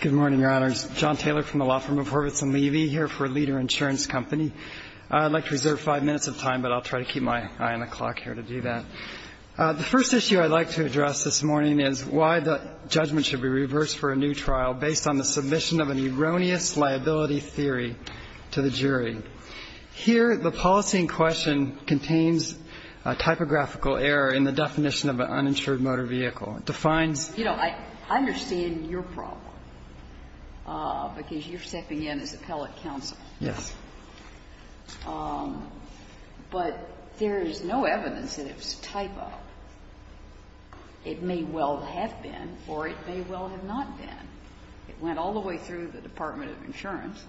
Good morning, Your Honors. John Taylor from the law firm of Horvitz & Levy here for Leader Insurance Company. I'd like to reserve five minutes of time, but I'll try to keep my eye on the clock here to do that. The first issue I'd like to address this morning is why the judgment should be reversed for a new trial based on the submission of an erroneous liability theory to the jury. Here, the policy in question contains a typographical error in the definition of an uninsured motor vehicle. It defines — You know, I understand your problem, because you're stepping in as appellate counsel. Yes. But there is no evidence that it was a type-up. It may well have been, or it may well have not been. It went all the way through the Department of Insurance,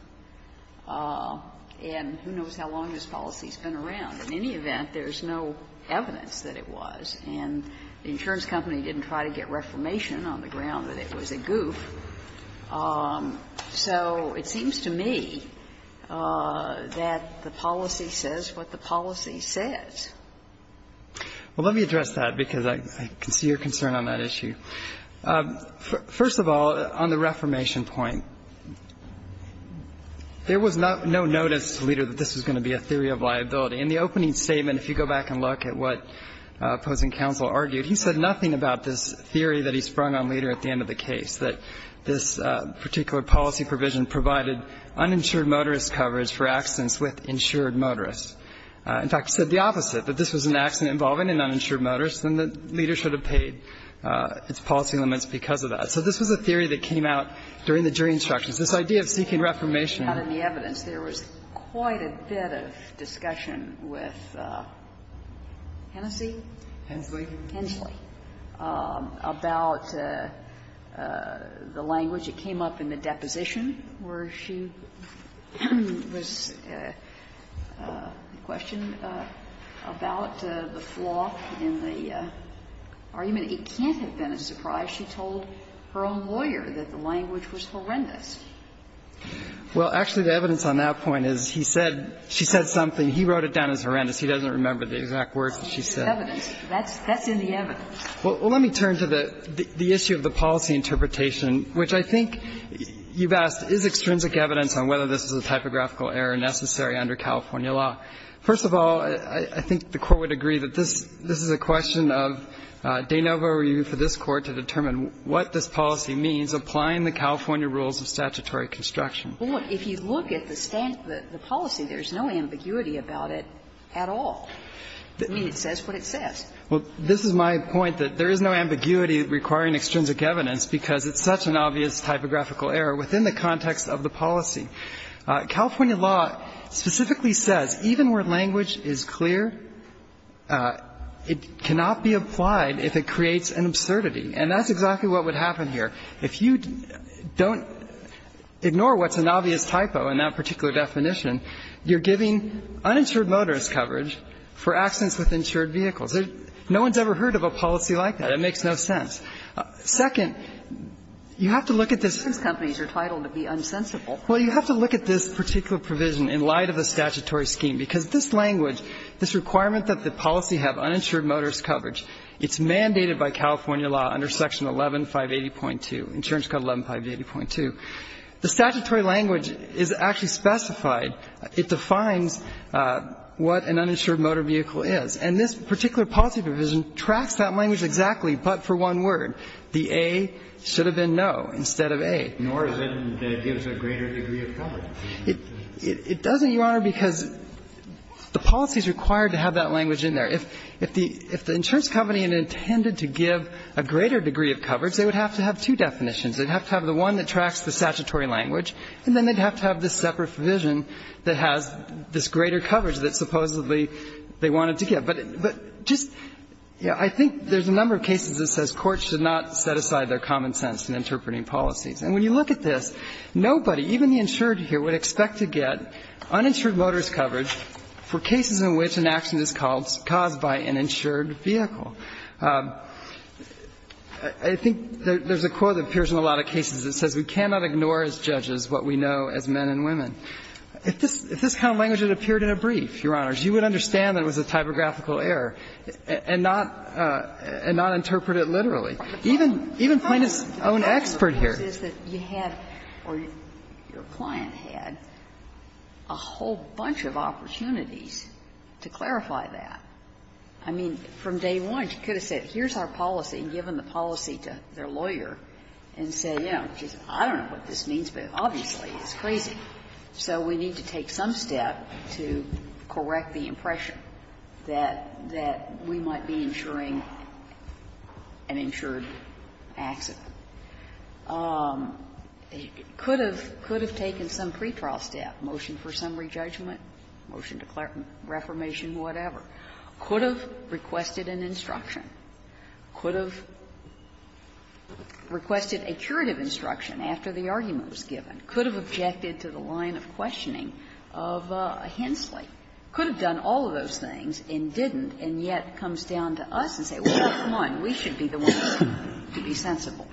and who knows how long this policy has been around. In any event, there is no evidence that it was. And the insurance company didn't try to get Reformation on the ground that it was a goof. So it seems to me that the policy says what the policy says. Well, let me address that, because I can see your concern on that issue. First of all, on the Reformation point, there was no notice, Leader, that this was going to be a theory of liability. In the opening statement, if you go back and look at what opposing counsel argued, he said nothing about this theory that he sprung on, Leader, at the end of the case, that this particular policy provision provided uninsured motorist coverage for accidents with insured motorists. In fact, he said the opposite, that this was an accident involving an uninsured motorist, and that Leader should have paid its policy limits because of that. So this was a theory that came out during the jury instructions. This idea of seeking Reformation. Kagan. I'm just curious about the language out in the evidence. There was quite a bit of discussion with Hennessey? Hensley. Hensley, about the language. It came up in the deposition where she was questioned about the flaw in the argument. It can't have been a surprise. She told her own lawyer that the language was horrendous. Well, actually, the evidence on that point is he said she said something. He wrote it down as horrendous. He doesn't remember the exact words that she said. That's in the evidence. Well, let me turn to the issue of the policy interpretation, which I think you've asked, is extrinsic evidence on whether this is a typographical error necessary under California law? First of all, I think the Court would agree that this is a question of de novo review for this Court to determine what this policy means, applying the California rules of statutory construction. Well, look, if you look at the policy, there's no ambiguity about it at all. I mean, it says what it says. Well, this is my point, that there is no ambiguity requiring extrinsic evidence because it's such an obvious typographical error within the context of the policy. California law specifically says even where language is clear, it cannot be applied if it creates an absurdity, and that's exactly what would happen here. If you don't ignore what's an obvious typo in that particular definition, you're giving uninsured motorist coverage for accidents with insured vehicles. No one's ever heard of a policy like that. It makes no sense. Second, you have to look at this. Kagan. The insurance companies are titled to be unsensible. Well, you have to look at this particular provision in light of the statutory scheme, because this language, this requirement that the policy have uninsured motorist coverage, it's mandated by California law under Section 11580.2, Insurance Code 11580.2. The statutory language is actually specified. It defines what an uninsured motor vehicle is. And this particular policy provision tracks that language exactly, but for one word. The A should have been no instead of A. Nor is it that it gives a greater degree of coverage. It doesn't, Your Honor, because the policy is required to have that language in there. If the insurance company intended to give a greater degree of coverage, they would have to have two definitions. They would have to have the one that tracks the statutory language, and then they'd have to have this separate provision that has this greater coverage that supposedly they wanted to give. But just, you know, I think there's a number of cases that says courts should not set aside their common sense in interpreting policies. And when you look at this, nobody, even the insured here, would expect to get uninsured motorist coverage for cases in which an accident is caused by an insured vehicle. I think there's a quote that appears in a lot of cases that says we cannot ignore as judges what we know as men and women. If this kind of language had appeared in a brief, Your Honors, you would understand that it was a typographical error, and not interpret it literally. Even Plaintiff's own expert here. Ginsburg. The problem is that you have or your client had a whole bunch of opportunities to clarify that. I mean, from day one, she could have said, here's our policy, given the policy to their lawyer, and said, you know, I don't know what this means, but obviously it's crazy. So we need to take some step to correct the impression that we might be insuring an insured accident. Could have taken some pretrial step, motion for summary judgment, motion to reformation, whatever. Could have requested an instruction. Could have requested a curative instruction after the argument was given. Could have objected to the line of questioning of Hensley. Could have done all of those things and didn't, and yet comes down to us and says, well, come on, we should be the ones to be sensible.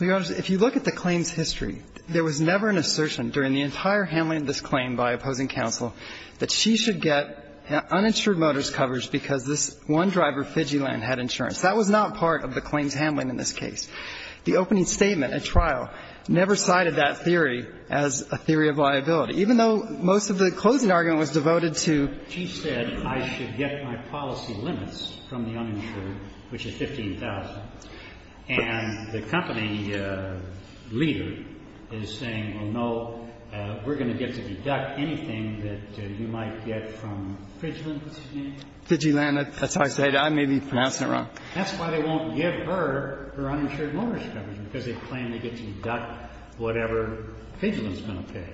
Well, Your Honors, if you look at the claim's history, there was never an assertion during the entire handling of this claim by opposing counsel that she should get uninsured motorist coverage because this one driver, Fidgeyland, had insurance. That was not part of the claim's handling in this case. The opening statement at trial never cited that theory as a theory of liability, even though most of the closing argument was devoted to she said I should get my policy limits from the uninsured, which is 15,000, and the company leader is saying, well, no, we're going to get to deduct anything that you might get from Fidgeland, what's his name? Fidgeland, that's how I say it. I may be pronouncing it wrong. That's why they won't give her her uninsured motorist coverage, because they claim they get to deduct whatever Fidgeland's going to pay.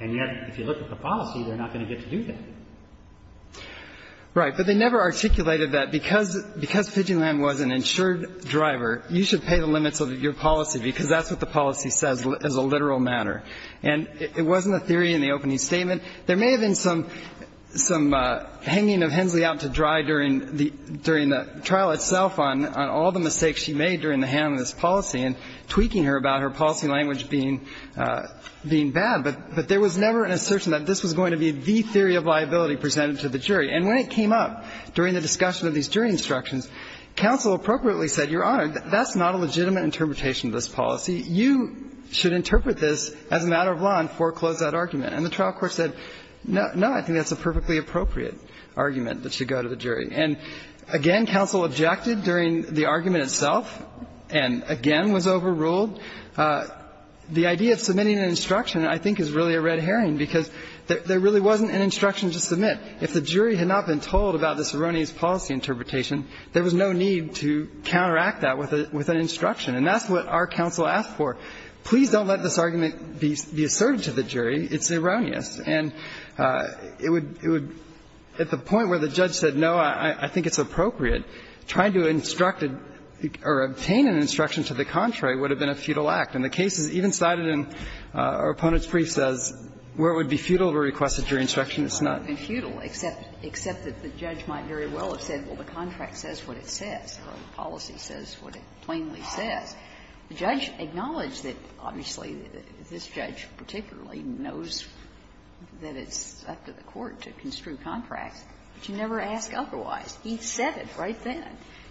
And yet, if you look at the policy, they're not going to get to do that. Right. But they never articulated that because Fidgeland was an insured driver, you should pay the limits of your policy, because that's what the policy says as a literal matter. And it wasn't a theory in the opening statement. And there may have been some hanging of Hensley out to dry during the trial itself on all the mistakes she made during the handling of this policy and tweaking her about her policy language being bad. But there was never an assertion that this was going to be the theory of liability presented to the jury. And when it came up during the discussion of these jury instructions, counsel appropriately said, Your Honor, that's not a legitimate interpretation of this policy. You should interpret this as a matter of law and foreclose that argument. And the trial court said, no, I think that's a perfectly appropriate argument that should go to the jury. And again, counsel objected during the argument itself and again was overruled. The idea of submitting an instruction, I think, is really a red herring, because there really wasn't an instruction to submit. If the jury had not been told about this erroneous policy interpretation, there was no need to counteract that with an instruction. And that's what our counsel asked for. Please don't let this argument be asserted to the jury. It's erroneous. And it would at the point where the judge said, no, I think it's appropriate, trying to instruct or obtain an instruction to the contrary would have been a futile act. And the case is even cited in our opponent's briefs as where it would be futile to request a jury instruction, it's not. It's not futile, except that the judge might very well have said, well, the contract says what it says, or the policy says what it plainly says. The judge acknowledged that, obviously, this judge particularly knows that it's up to the court to construe contracts, but you never ask otherwise. He said it right then.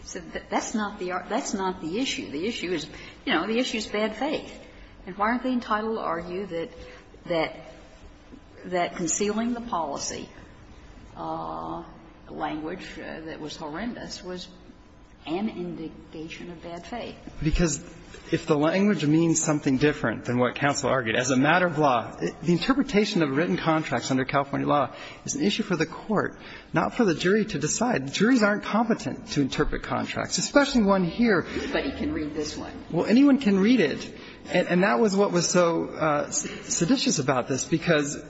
He said, that's not the issue. The issue is, you know, the issue is bad faith. And why aren't they entitled to argue that concealing the policy, a language that was horrendous, was an indication of bad faith? Because if the language means something different than what counsel argued, as a matter of law, the interpretation of written contracts under California law is an issue for the court, not for the jury to decide. Juries aren't competent to interpret contracts, especially one here. Kagan. Anybody can read this one. Well, anyone can read it. And that was what was so seditious about this, because,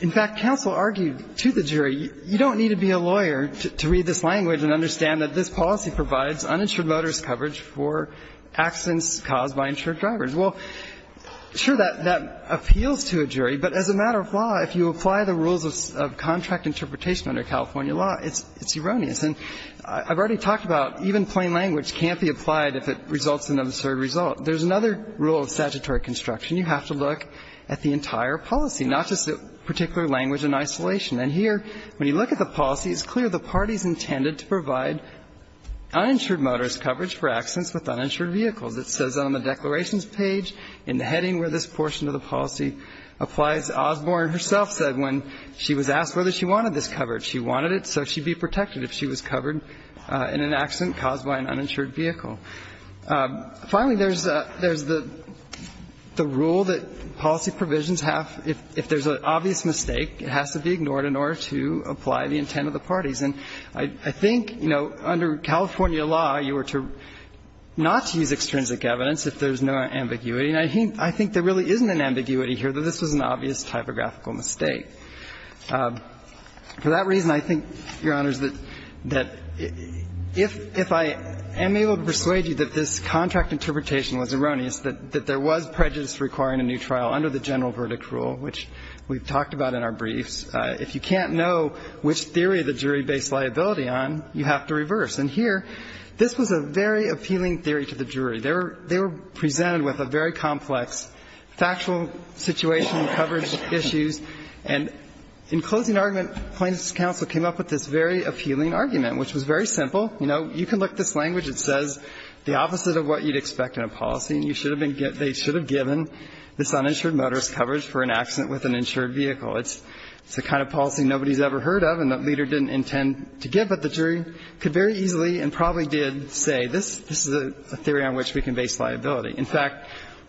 in fact, counsel argued to the jury, you don't need to be a lawyer to read this language and understand that this policy provides uninsured motorist coverage for accidents caused by insured drivers. Well, sure, that appeals to a jury, but as a matter of law, if you apply the rules of contract interpretation under California law, it's erroneous. And I've already talked about even plain language can't be applied if it results in an absurd result. There's another rule of statutory construction. You have to look at the entire policy, not just a particular language in isolation. And here, when you look at the policy, it's clear the party's intended to provide uninsured motorist coverage for accidents with uninsured vehicles. It says on the declarations page, in the heading where this portion of the policy applies, Osborne herself said when she was asked whether she wanted this coverage, she wanted it so she'd be protected if she was covered in an accident caused by an uninsured vehicle. Finally, there's the rule that policy provisions have, if there's an obvious mistake, it has to be ignored in order to apply the intent of the parties. And I think, you know, under California law, you are to not use extrinsic evidence if there's no ambiguity. And I think there really isn't an ambiguity here, that this was an obvious typographical mistake. For that reason, I think, Your Honors, that if I am able to persuade you that this contract interpretation was erroneous, that there was prejudice requiring a new trial under the general verdict rule, which we've talked about in our briefs. If you can't know which theory the jury based liability on, you have to reverse. And here, this was a very appealing theory to the jury. They were presented with a very complex factual situation, coverage issues, and in closing argument, Plaintiff's counsel came up with this very appealing argument, which was very simple. You know, you can look at this language, it says the opposite of what you'd expect in a policy. They should have given this uninsured motorist coverage for an accident with an insured vehicle. It's the kind of policy nobody's ever heard of and the leader didn't intend to give. But the jury could very easily and probably did say this is a theory on which we can base liability. In fact,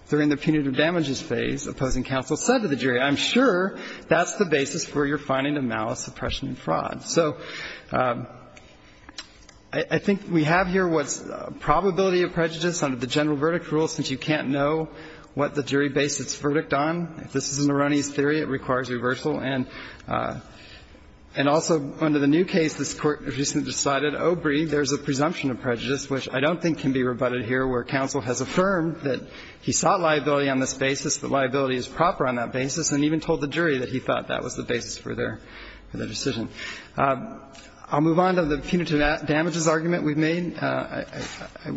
during the punitive damages phase, opposing counsel said to the jury, I'm sure that's the basis for your finding of malice, oppression, and fraud. So I think we have here what's probability of prejudice under the general verdict rule, since you can't know what the jury based its verdict on. If this is an erroneous theory, it requires reversal. And also under the new case, this Court recently decided, oh, breathe, there's a presumption of prejudice, which I don't think can be rebutted here, where counsel has affirmed that he sought liability on this basis, that liability is proper on that basis, and even told the jury that he thought that was the basis for their decision. I'll move on to the punitive damages argument we've made. I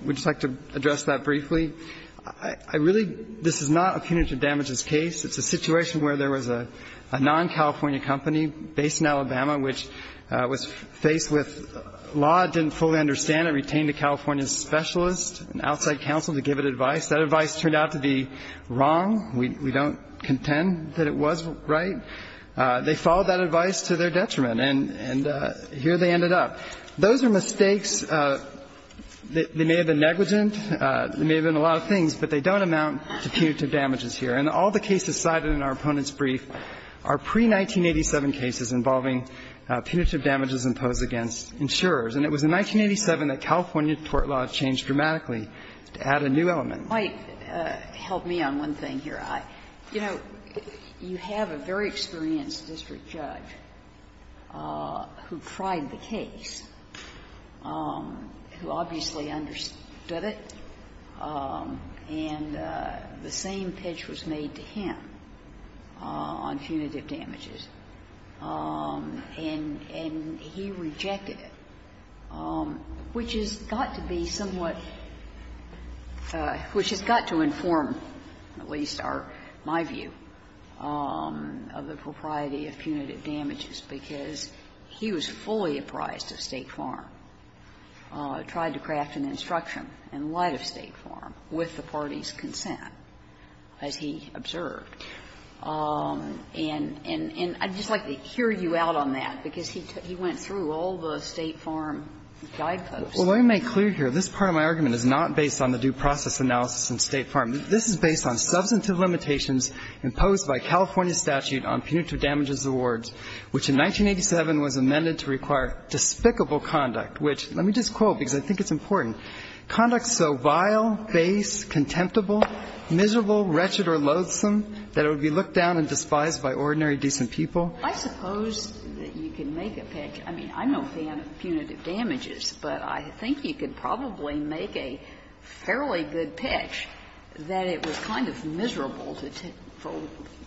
would just like to address that briefly. I really – this is not a punitive damages case. It's a situation where there was a non-California company based in Alabama, which was faced with law, didn't fully understand it, retained a California specialist, an outside counsel, to give it advice. That advice turned out to be wrong. We don't contend that it was right. They followed that advice to their detriment, and here they ended up. Those are mistakes that may have been negligent. There may have been a lot of things, but they don't amount to punitive damages here. And all the cases cited in our opponent's brief are pre-1987 cases involving punitive damages imposed against insurers. And it was in 1987 that California court law changed dramatically to add a new element. Sotomayor, help me on one thing here. You know, you have a very experienced district judge who tried the case, who obviously understood it, and the same pitch was made to him on punitive damages. And he rejected it, which has got to be somewhat – which has got to inform, at least, our – my view of the propriety of punitive damages, because he was fully apprised of State Farm. He tried to craft an instruction in light of State Farm with the party's consent, as he observed. And I'd just like to hear you out on that, because he went through all the State Farm guideposts. Well, let me make clear here, this part of my argument is not based on the due process analysis in State Farm. This is based on substantive limitations imposed by California's statute on punitive conduct, which, let me just quote, because I think it's important. Conduct so vile, base, contemptible, miserable, wretched or loathsome that it would be looked down and despised by ordinary, decent people. I suppose that you can make a pitch. I mean, I'm no fan of punitive damages, but I think you could probably make a fairly good pitch that it was kind of miserable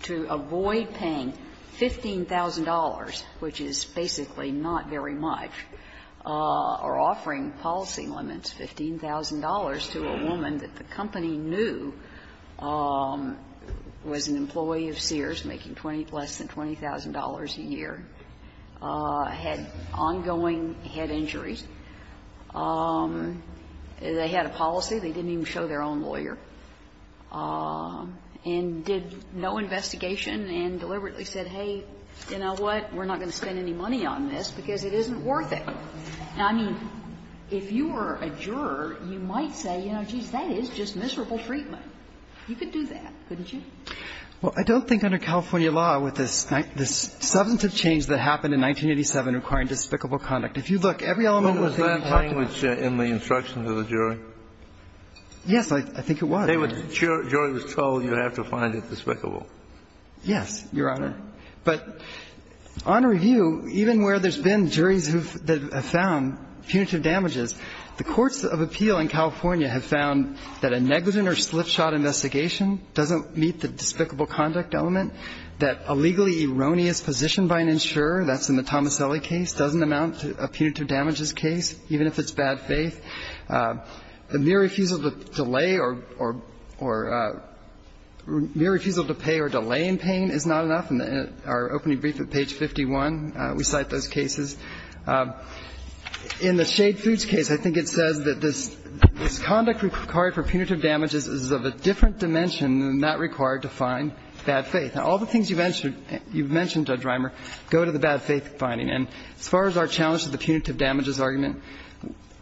to avoid paying $15,000, which is basically not very much. And I think you could make a pretty good pitch that it was not very much, or offering policy limits, $15,000 to a woman that the company knew was an employee of Sears, making less than $20,000 a year, had ongoing head injuries. They had a policy. They didn't even show their own lawyer, and did no investigation and deliberately said, hey, you know what? We're not going to spend any money on this because it isn't worth it. Now, I mean, if you were a juror, you might say, you know, geez, that is just miserable treatment. You could do that, couldn't you? Well, I don't think under California law with this substantive change that happened in 1987 requiring despicable conduct. If you look, every element of the thing you talk about was in the instruction to the jury. Yes, I think it was. The jury was told you have to find it despicable. Yes, Your Honor. But on review, even where there's been juries who have found punitive damages, the courts of appeal in California have found that a negligent or slipshod investigation doesn't meet the despicable conduct element, that a legally erroneous position by an insurer, that's in the Tomaselli case, doesn't amount to a punitive damages case, even if it's bad faith, the mere refusal to delay or mere refusal to pay or delay in paying is not enough. In our opening brief at page 51, we cite those cases. In the Shade Foods case, I think it says that this conduct required for punitive damages is of a different dimension than that required to find bad faith. Now, all the things you've mentioned, Judge Reimer, go to the bad faith finding. And as far as our challenge to the punitive damages argument,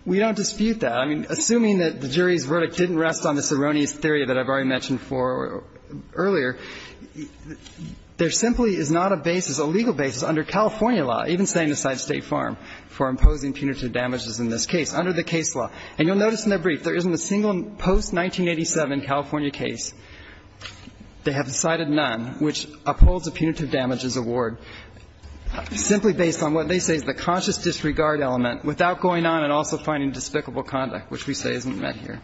we don't dispute that. I mean, assuming that the jury's verdict didn't rest on this erroneous theory that I've already mentioned for earlier, there simply is not a basis, a legal basis under California law, even saying the side of State Farm, for imposing punitive damages in this case, under the case law. And you'll notice in the brief there isn't a single post-1987 California case. They have cited none which upholds a punitive damages award simply based on what they say is the conscious disregard element without going on and also finding despicable conduct, which we say isn't met here.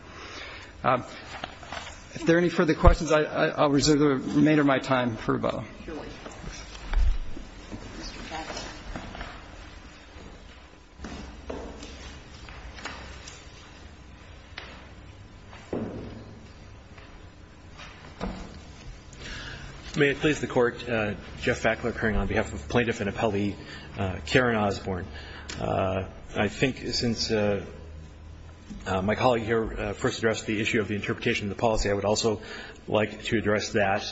If there are any further questions, I'll reserve the remainder of my time for rebuttal. Ms. Fackler. May it please the Court. Jeff Fackler appearing on behalf of Plaintiff and Appellee Karen Osborne. I think since my colleague here first addressed the issue of the interpretation of the policy, I would also like to address that.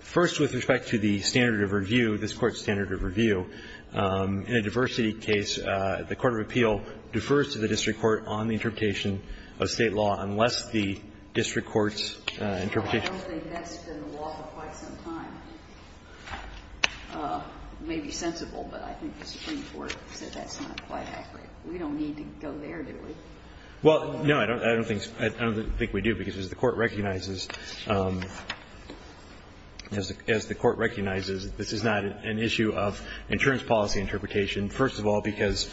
First, with respect to the standard of review, this Court's standard of review, in a diversity case, the court of appeal defers to the district court on the interpretation of State law unless the district court's interpretation of State law. And I think that's something that we've been talking about for a long time, and I think that's something that we've been talking about for quite some time. It may be sensible, but I think the Supreme Court said that's not quite accurate. We don't need to go there, do we? Well, no, I don't think we do, because as the Court recognizes, as the Court recognizes that this is not an issue of insurance policy interpretation, first of all, because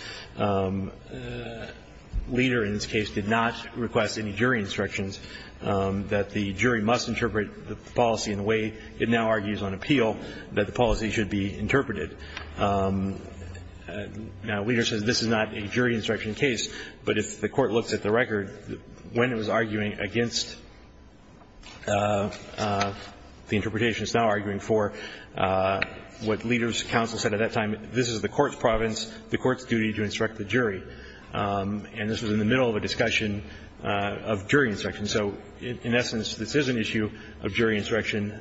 Leder, in this case, did not request any jury instructions, that the jury must interpret the policy in the way it now argues on appeal, that the policy should be interpreted. Now, Leder says this is not a jury instruction case, but if the Court looks at the record, when it was arguing against the interpretation it's now arguing for, what Leder's counsel said at that time, this is the Court's province, the Court's duty to instruct the jury. And this was in the middle of a discussion of jury instruction. So in essence, this is an issue of jury instruction.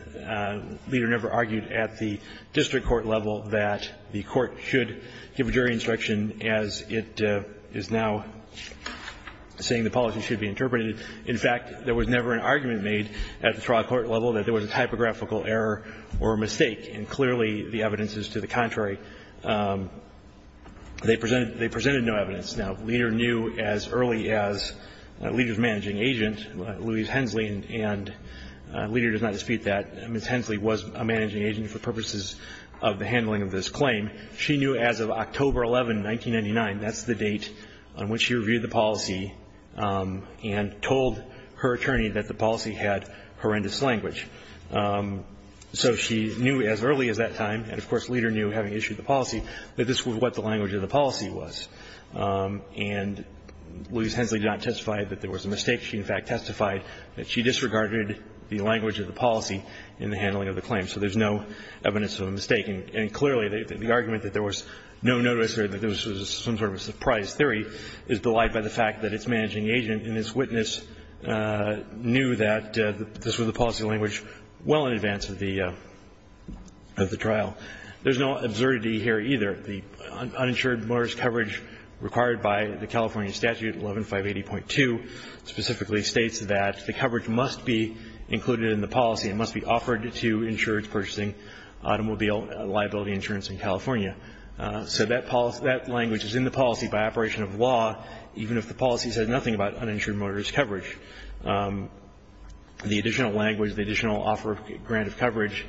Leder never argued at the district court level that the Court should give jury instruction as it is now saying the policy should be interpreted. In fact, there was never an argument made at the trial court level that there was a typographical error or mistake, and clearly the evidence is to the contrary. They presented no evidence. Now, Leder knew as early as Leder's managing agent, Louise Hensley, and Leder does not dispute that. Ms. Hensley was a managing agent for purposes of the handling of this claim. She knew as of October 11, 1999, that's the date on which she reviewed the policy and told her attorney that the policy had horrendous language. So she knew as early as that time, and of course Leder knew having issued the policy, that this was what the language of the policy was. And Louise Hensley did not testify that there was a mistake. She, in fact, testified that she disregarded the language of the policy in the handling of the claim. So there's no evidence of a mistake. And clearly, the argument that there was no notice or that there was some sort of a surprise theory is belied by the fact that its managing agent and its witness knew that this was the policy language well in advance of the trial. There's no absurdity here either. The uninsured motorist coverage required by the California statute, 11-580.2, specifically states that the coverage must be included in the policy and must be offered to insurers purchasing automobile liability insurance in California. So that language is in the policy by operation of law, even if the policy says nothing about uninsured motorist coverage. The additional language, the additional offer of grant of coverage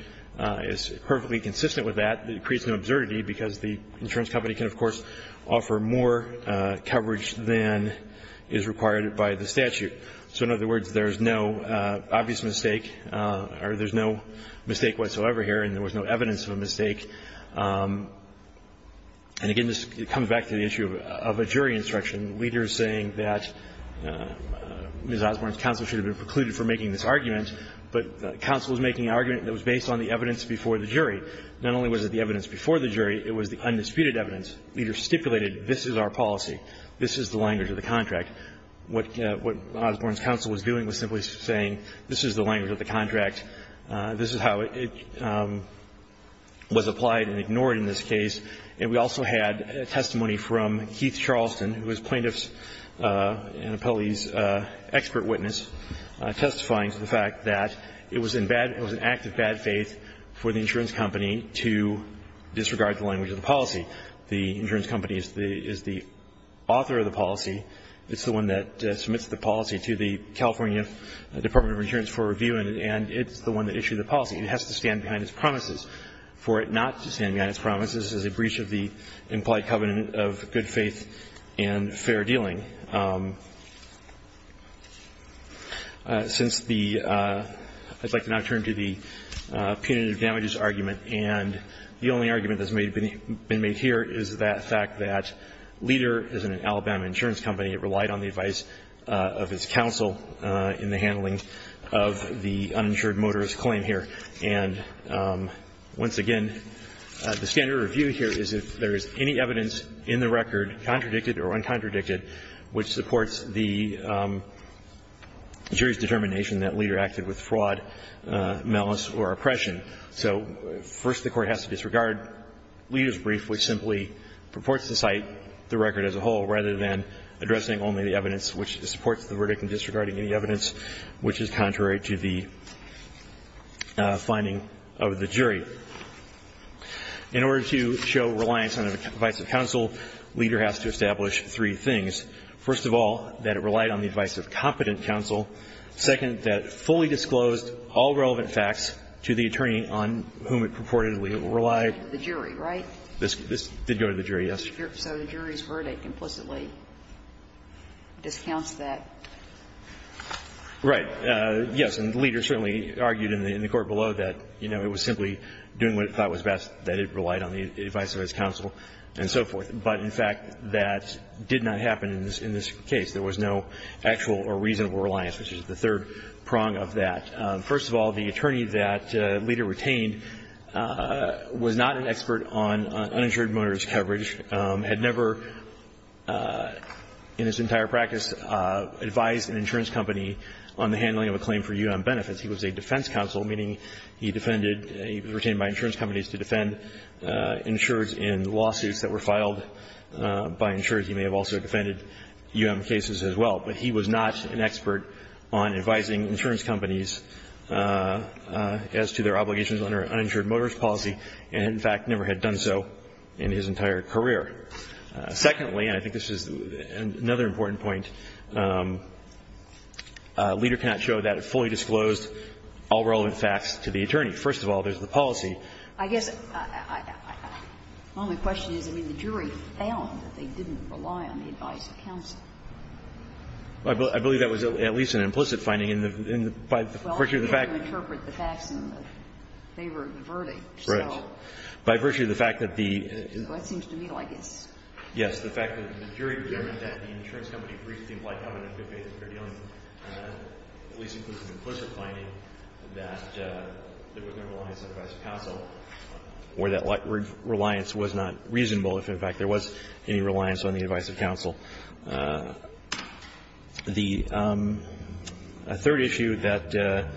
is perfectly consistent with that. It creates no absurdity because the insurance company can, of course, offer more coverage than is required by the statute. So in other words, there's no obvious mistake or there's no mistake whatsoever here and there was no evidence of a mistake. And again, this comes back to the issue of a jury instruction. Leaders saying that Ms. Osborne's counsel should have been precluded for making this argument, but counsel was making an argument that was based on the evidence before the jury. Not only was it the evidence before the jury, it was the undisputed evidence. Leaders stipulated, this is our policy, this is the language of the contract. What Osborne's counsel was doing was simply saying, this is the language of the contract. This is how it was applied and ignored in this case. And we also had testimony from Keith Charleston, who was plaintiff's and appellee's expert witness, testifying to the fact that it was in bad – it was an act of bad faith for the insurance company to disregard the language of the policy. The insurance company is the author of the policy. It's the one that submits the policy to the California Department of Insurance for review, and it's the one that issued the policy. It has to stand behind its promises. For it not to stand behind its promises is a breach of the implied covenant of good faith and fair dealing. Since the – I'd like to now turn to the punitive damages argument, and the only argument that's been made here is the fact that Leader is an Alabama insurance company. It relied on the advice of its counsel in the handling of the uninsured motorist claim here. And once again, the standard review here is if there is any evidence in the record contradicted or uncontradicted which supports the jury's determination that Leader acted with fraud, malice or oppression. So first the Court has to disregard Leader's brief, which simply purports to cite the record as a whole rather than addressing only the evidence which supports the verdict and disregarding any evidence which is contrary to the finding of the jury. In order to show reliance on the advice of counsel, Leader has to establish three things. First of all, that it relied on the advice of competent counsel. Second, that it fully disclosed all relevant facts to the attorney on whom it purportedly relied. The jury, right? This did go to the jury, yes. So the jury's verdict implicitly discounts that. Right. Yes. And Leader certainly argued in the court below that, you know, it was simply doing what it thought was best, that it relied on the advice of its counsel and so forth. But in fact, that did not happen in this case. There was no actual or reasonable reliance, which is the third prong of that. First of all, the attorney that Leader retained was not an expert on uninsured motorist coverage, had never in his entire practice advised an insurance company on the handling of a claim for U.M. benefits. He was a defense counsel, meaning he defended he was retained by insurance companies to defend insurers in lawsuits that were filed by insurers. He may have also defended U.M. cases as well, but he was not an expert on advising insurance companies as to their obligations under uninsured motorist policy, and in fact, he had not done so in his entire career. Secondly, and I think this is another important point, Leader cannot show that it fully disclosed all relevant facts to the attorney. First of all, there's the policy. I guess my only question is, I mean, the jury found that they didn't rely on the advice of counsel. I believe that was at least an implicit finding in the verdict. Well, I didn't interpret the facts in favor of the verdict. Right. By virtue of the fact that the the jury determined that the insurance company briefed the implied covenant of good faith in their dealing, and that at least includes an implicit finding that there was no reliance on the advice of counsel, or that reliance was not reasonable if, in fact, there was any reliance on the advice of counsel. The third issue that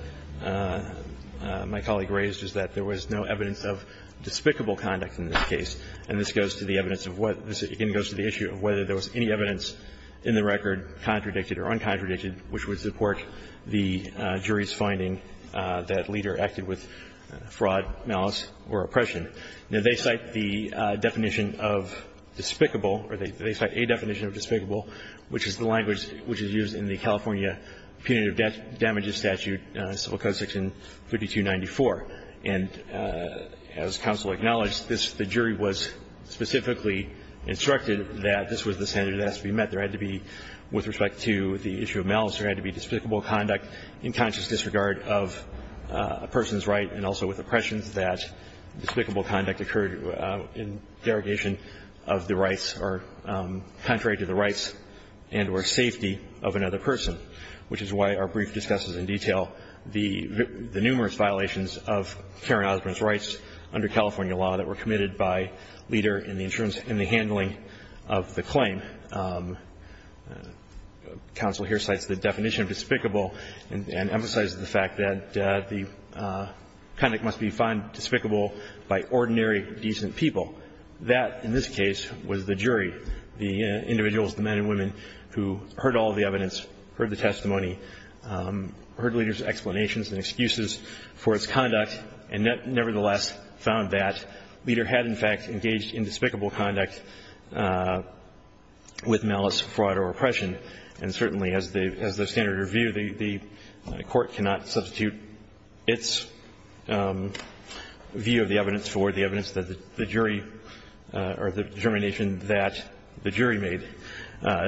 my colleague raised is that there was no evidence of U.M. Despicable conduct in this case. And this goes to the evidence of what the city goes to the issue of whether there was any evidence in the record contradicted or uncontradicted which would support the jury's finding that Leader acted with fraud, malice or oppression. Now, they cite the definition of despicable, or they cite a definition of despicable, which is the language which is used in the California punitive damages statute, Civil Code section 5294. And as counsel acknowledged, this the jury was specifically instructed that this was the standard that has to be met. There had to be, with respect to the issue of malice, there had to be despicable conduct in conscious disregard of a person's right and also with oppressions that despicable conduct occurred in derogation of the rights or contrary to the rights and or safety of another person, which is why our brief discusses in detail the numerous violations of Karen Osborn's rights under California law that were committed by Leader in the insurance and the handling of the claim. Counsel here cites the definition of despicable and emphasizes the fact that the conduct must be found despicable by ordinary, decent people. That, in this case, was the jury, the individuals, the men and women who heard all of the evidence, heard the testimony, heard Leader's explanation. The jury made no determinations and excuses for its conduct and nevertheless found that Leader had in fact engaged in despicable conduct with malice, fraud or oppression. And certainly as the standard review, the Court cannot substitute its view of the evidence for the evidence that the jury or the determination that the jury made.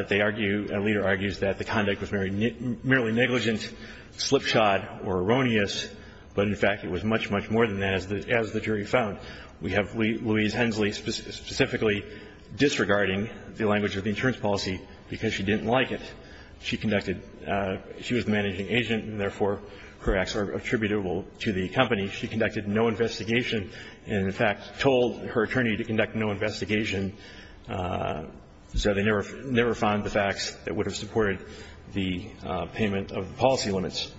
They argue, Leader argues that the conduct was merely negligent, slipshod or erroneous, but in fact it was much, much more than that as the jury found. We have Louise Hensley specifically disregarding the language of the insurance policy because she didn't like it. She conducted, she was the managing agent and therefore her acts are attributable to the company. She conducted no investigation and in fact told her attorney to conduct no investigation so they never found the facts that would have supported the payment of the policy limits.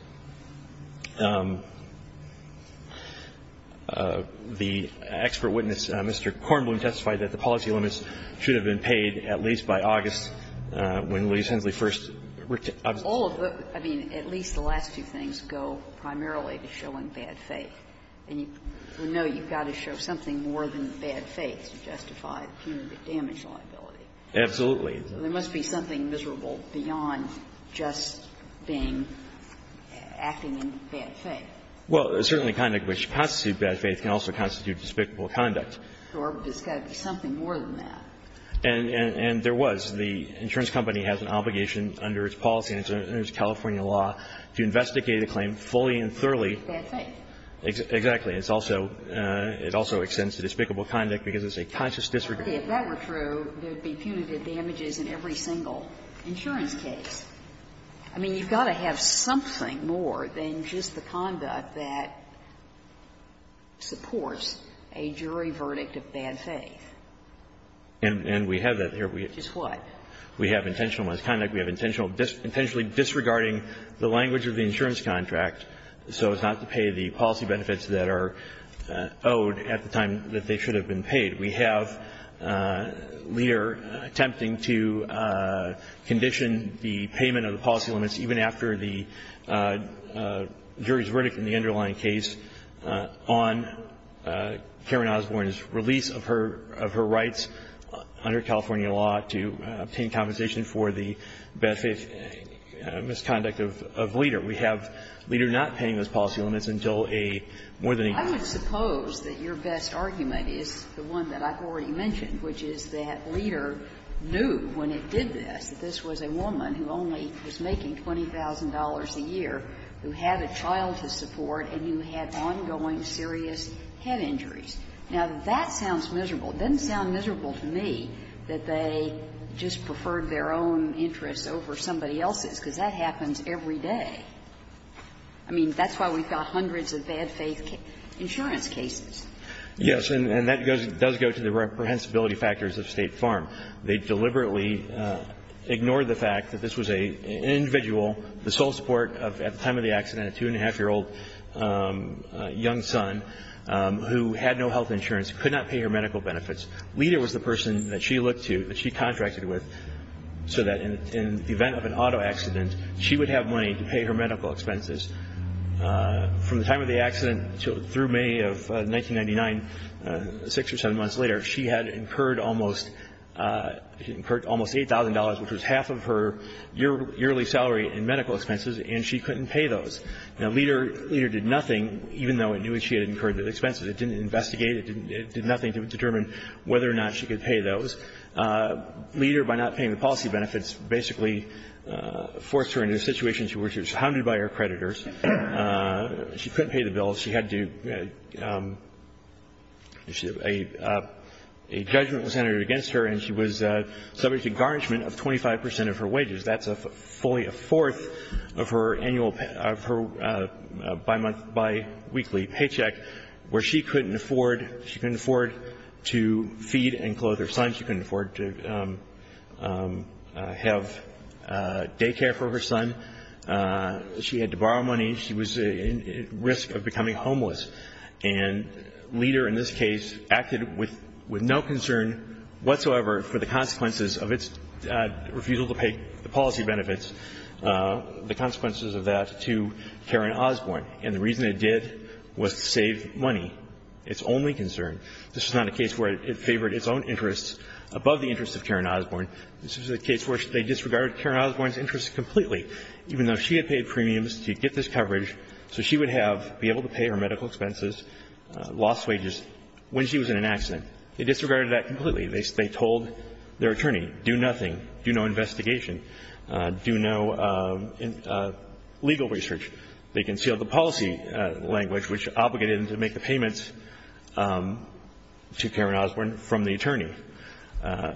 The expert witness, Mr. Kornblum, testified that the policy limits should have been paid at least by August when Louise Hensley first observed. All of the, I mean, at least the last two things go primarily to showing bad faith. And you know you've got to show something more than bad faith to justify the punitive damage liability. Absolutely. There must be something miserable beyond just being, acting in bad faith. Well, certainly conduct which constitutes bad faith can also constitute despicable conduct. Or there's got to be something more than that. And there was. The insurance company has an obligation under its policy, under its California law, to investigate a claim fully and thoroughly. Bad faith. Exactly. It's also, it also extends to despicable conduct because it's a conscious disregard. If that were true, there'd be punitive damages in every single insurance case. I mean, you've got to have something more than just the conduct that supports a jury verdict of bad faith. And we have that here. Just what? We have intentional misconduct. We have intentionally disregarding the language of the insurance contract so as not to pay the policy benefits that are owed at the time that they should have been paid. We have Leder attempting to condition the payment of the policy limits even after the jury's verdict in the underlying case on Karen Osborne's release of her rights under California law to obtain compensation for the misconduct of Leder. We have Leder not paying those policy limits until a more than a year. I would suppose that your best argument is the one that I've already mentioned, which is that Leder knew when it did this that this was a woman who only was making $20,000 a year, who had a child to support, and you had ongoing serious head injuries. Now, that sounds miserable. It doesn't sound miserable to me that they just preferred their own interests over somebody else's, because that happens every day. I mean, that's why we've got hundreds of bad faith insurance cases. Yes. And that does go to the reprehensibility factors of State Farm. They deliberately ignored the fact that this was an individual, the sole support of, at the time of the accident, a 2-1⁄2-year-old young son who had no health insurance, could not pay her medical benefits. Leder was the person that she looked to, that she contracted with, so that in the event of an auto accident, she would have money to pay her medical expenses. From the time of the accident through May of 1999, six or seven months later, she had incurred almost $8,000, which was half of her yearly salary in medical expenses, and she couldn't pay those. Now, Leder did nothing, even though it knew she had incurred the expenses. It didn't investigate. It did nothing to determine whether or not she could pay those. Leder, by not paying the policy benefits, basically forced her into a situation where she was hounded by her creditors. She couldn't pay the bills. She had to do – a judgment was entered against her, and she was subject to garnishment of 25 percent of her wages. That's a fully a fourth of her annual – of her bi-month – bi-weekly paycheck, where she couldn't afford – she couldn't afford to feed and clothe her son. She couldn't afford to have daycare for her son. She had to borrow money. She was at risk of becoming homeless. And Leder, in this case, acted with no concern whatsoever for the consequences of its refusal to pay the policy benefits, the consequences of that to Karen Osborne. And the reason it did was to save money. It's only concern. This is not a case where it favored its own interests above the interests of Karen Osborne. This is a case where they disregarded Karen Osborne's interests completely, even though she had paid premiums to get this coverage, so she would have – be able to pay her medical expenses, lost wages, when she was in an accident. They disregarded that completely. They told their attorney, do nothing, do no investigation, do no legal research. They concealed the policy language, which obligated them to make the payments to Karen Osborne from the attorney.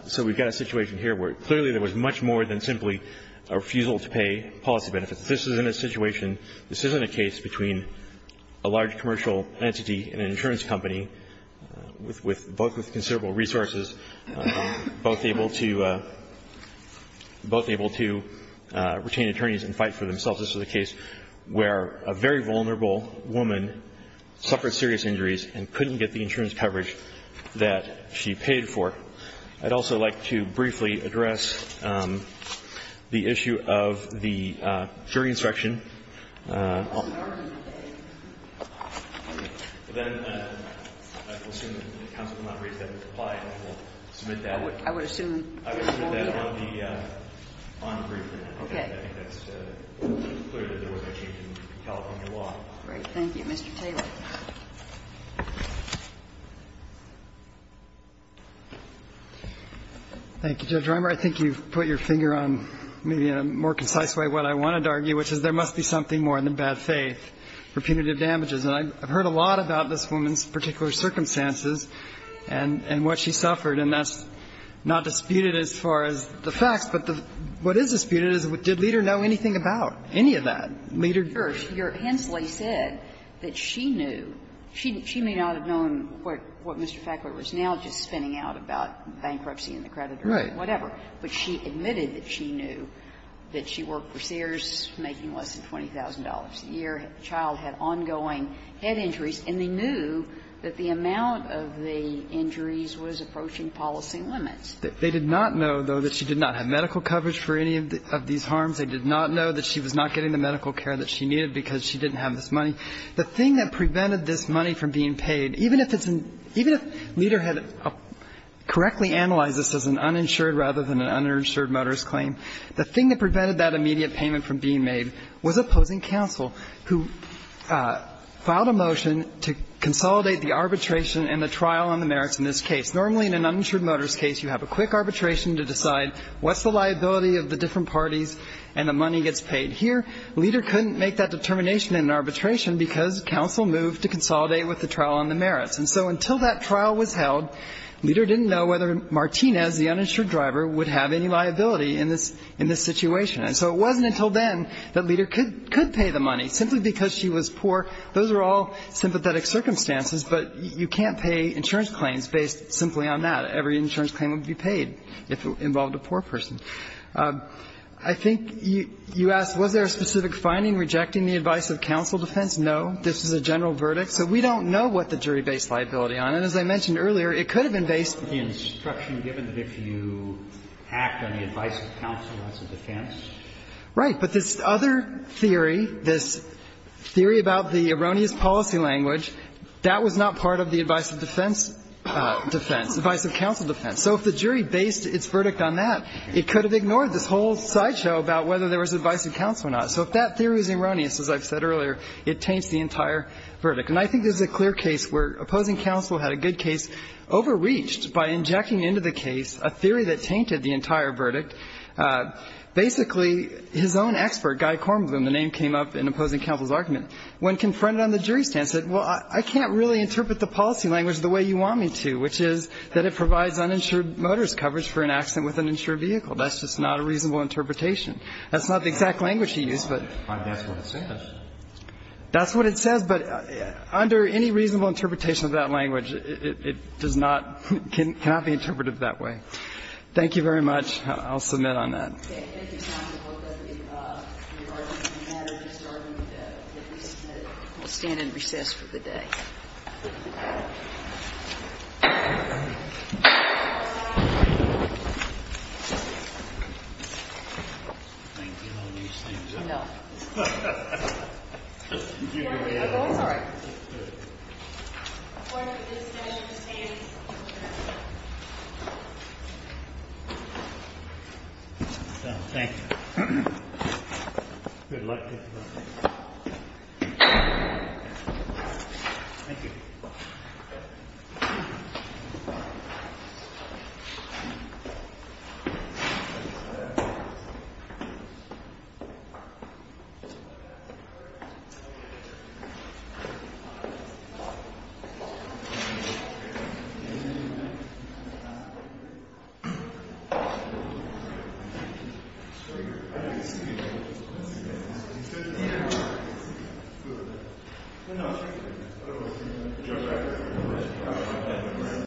So we've got a situation here where clearly there was much more than simply a refusal to pay policy benefits. This isn't a situation – this isn't a case between a large commercial entity and an insurance company with – both with considerable resources, both able to – both able to retain attorneys and fight for themselves. This is a case where a very vulnerable woman suffered serious injuries and couldn't get the insurance coverage that she paid for. I'd also like to briefly address the issue of the jury inspection. I think you've put your finger on, maybe in a more concise way, what I wanted to argue, which is there must be a jury inspection to determine whether or not there was a misdemeanor And I've heard a lot about this woman's particular circumstances and what she suffered. And that's not disputed as far as the facts, but what is disputed is did Leder know anything about any of that? Leder, your – Hensley said that she knew – she may not have known what Mr. Fackler was now just spinning out about bankruptcy and the creditor or whatever, but she admitted that she knew, that she worked for Sears making less than $20,000 a year, the child had ongoing head injuries, and they knew that the amount of the injuries was approaching policy limits. They did not know, though, that she did not have medical coverage for any of these harms. They did not know that she was not getting the medical care that she needed because she didn't have this money. The thing that prevented this money from being paid, even if it's an – even if Leder had correctly analyzed this as an uninsured rather than an uninsured motorist claim, the thing that prevented that immediate payment from being made was opposing counsel who filed a motion to consolidate the arbitration and the trial on the merits in this case. Normally, in an uninsured motorist case, you have a quick arbitration to decide what's the liability of the different parties and the money gets paid. Here, Leder couldn't make that determination in an arbitration because counsel moved to consolidate with the trial on the merits. And so until that trial was held, Leder didn't know whether Martinez, the uninsured driver, would have any liability in this situation. And so it wasn't until then that Leder could pay the money. Simply because she was poor, those are all sympathetic circumstances, but you can't pay insurance claims based simply on that. Every insurance claim would be paid if it involved a poor person. I think you asked, was there a specific finding rejecting the advice of counsel defense? No. This is a general verdict. So we don't know what the jury based liability on. And as I mentioned earlier, it could have been based on the instruction given that if you act on the advice of counsel as a defense. Right. But this other theory, this theory about the erroneous policy language, that was not part of the advice of defense defense, advice of counsel defense. So if the jury based its verdict on that, it could have ignored this whole sideshow about whether there was advice of counsel or not. So if that theory is erroneous, as I've said earlier, it taints the entire verdict. And I think there's a clear case where opposing counsel had a good case, overreached by injecting into the case a theory that tainted the entire verdict. Basically, his own expert, Guy Kornblum, the name came up in opposing counsel's argument, when confronted on the jury stand, said, well, I can't really interpret the policy language the way you want me to, which is that it provides uninsured motorist coverage for an accident with an insured vehicle. That's just not a reasonable interpretation. That's not the exact language he used, but that's what it says. But under any reasonable interpretation of that language, it does not, cannot be interpreted that way. Thank you very much. I'll submit on that. Okay, I think it's time to look at the regarding the matter we started with, that we submitted. We'll stand in recess for the day. Thank you. I'll use things up. No. Did you hear that? Oh, it's all right. The court is dismissed. Please stand. Thank you. Good luck. Thank you. Thank you.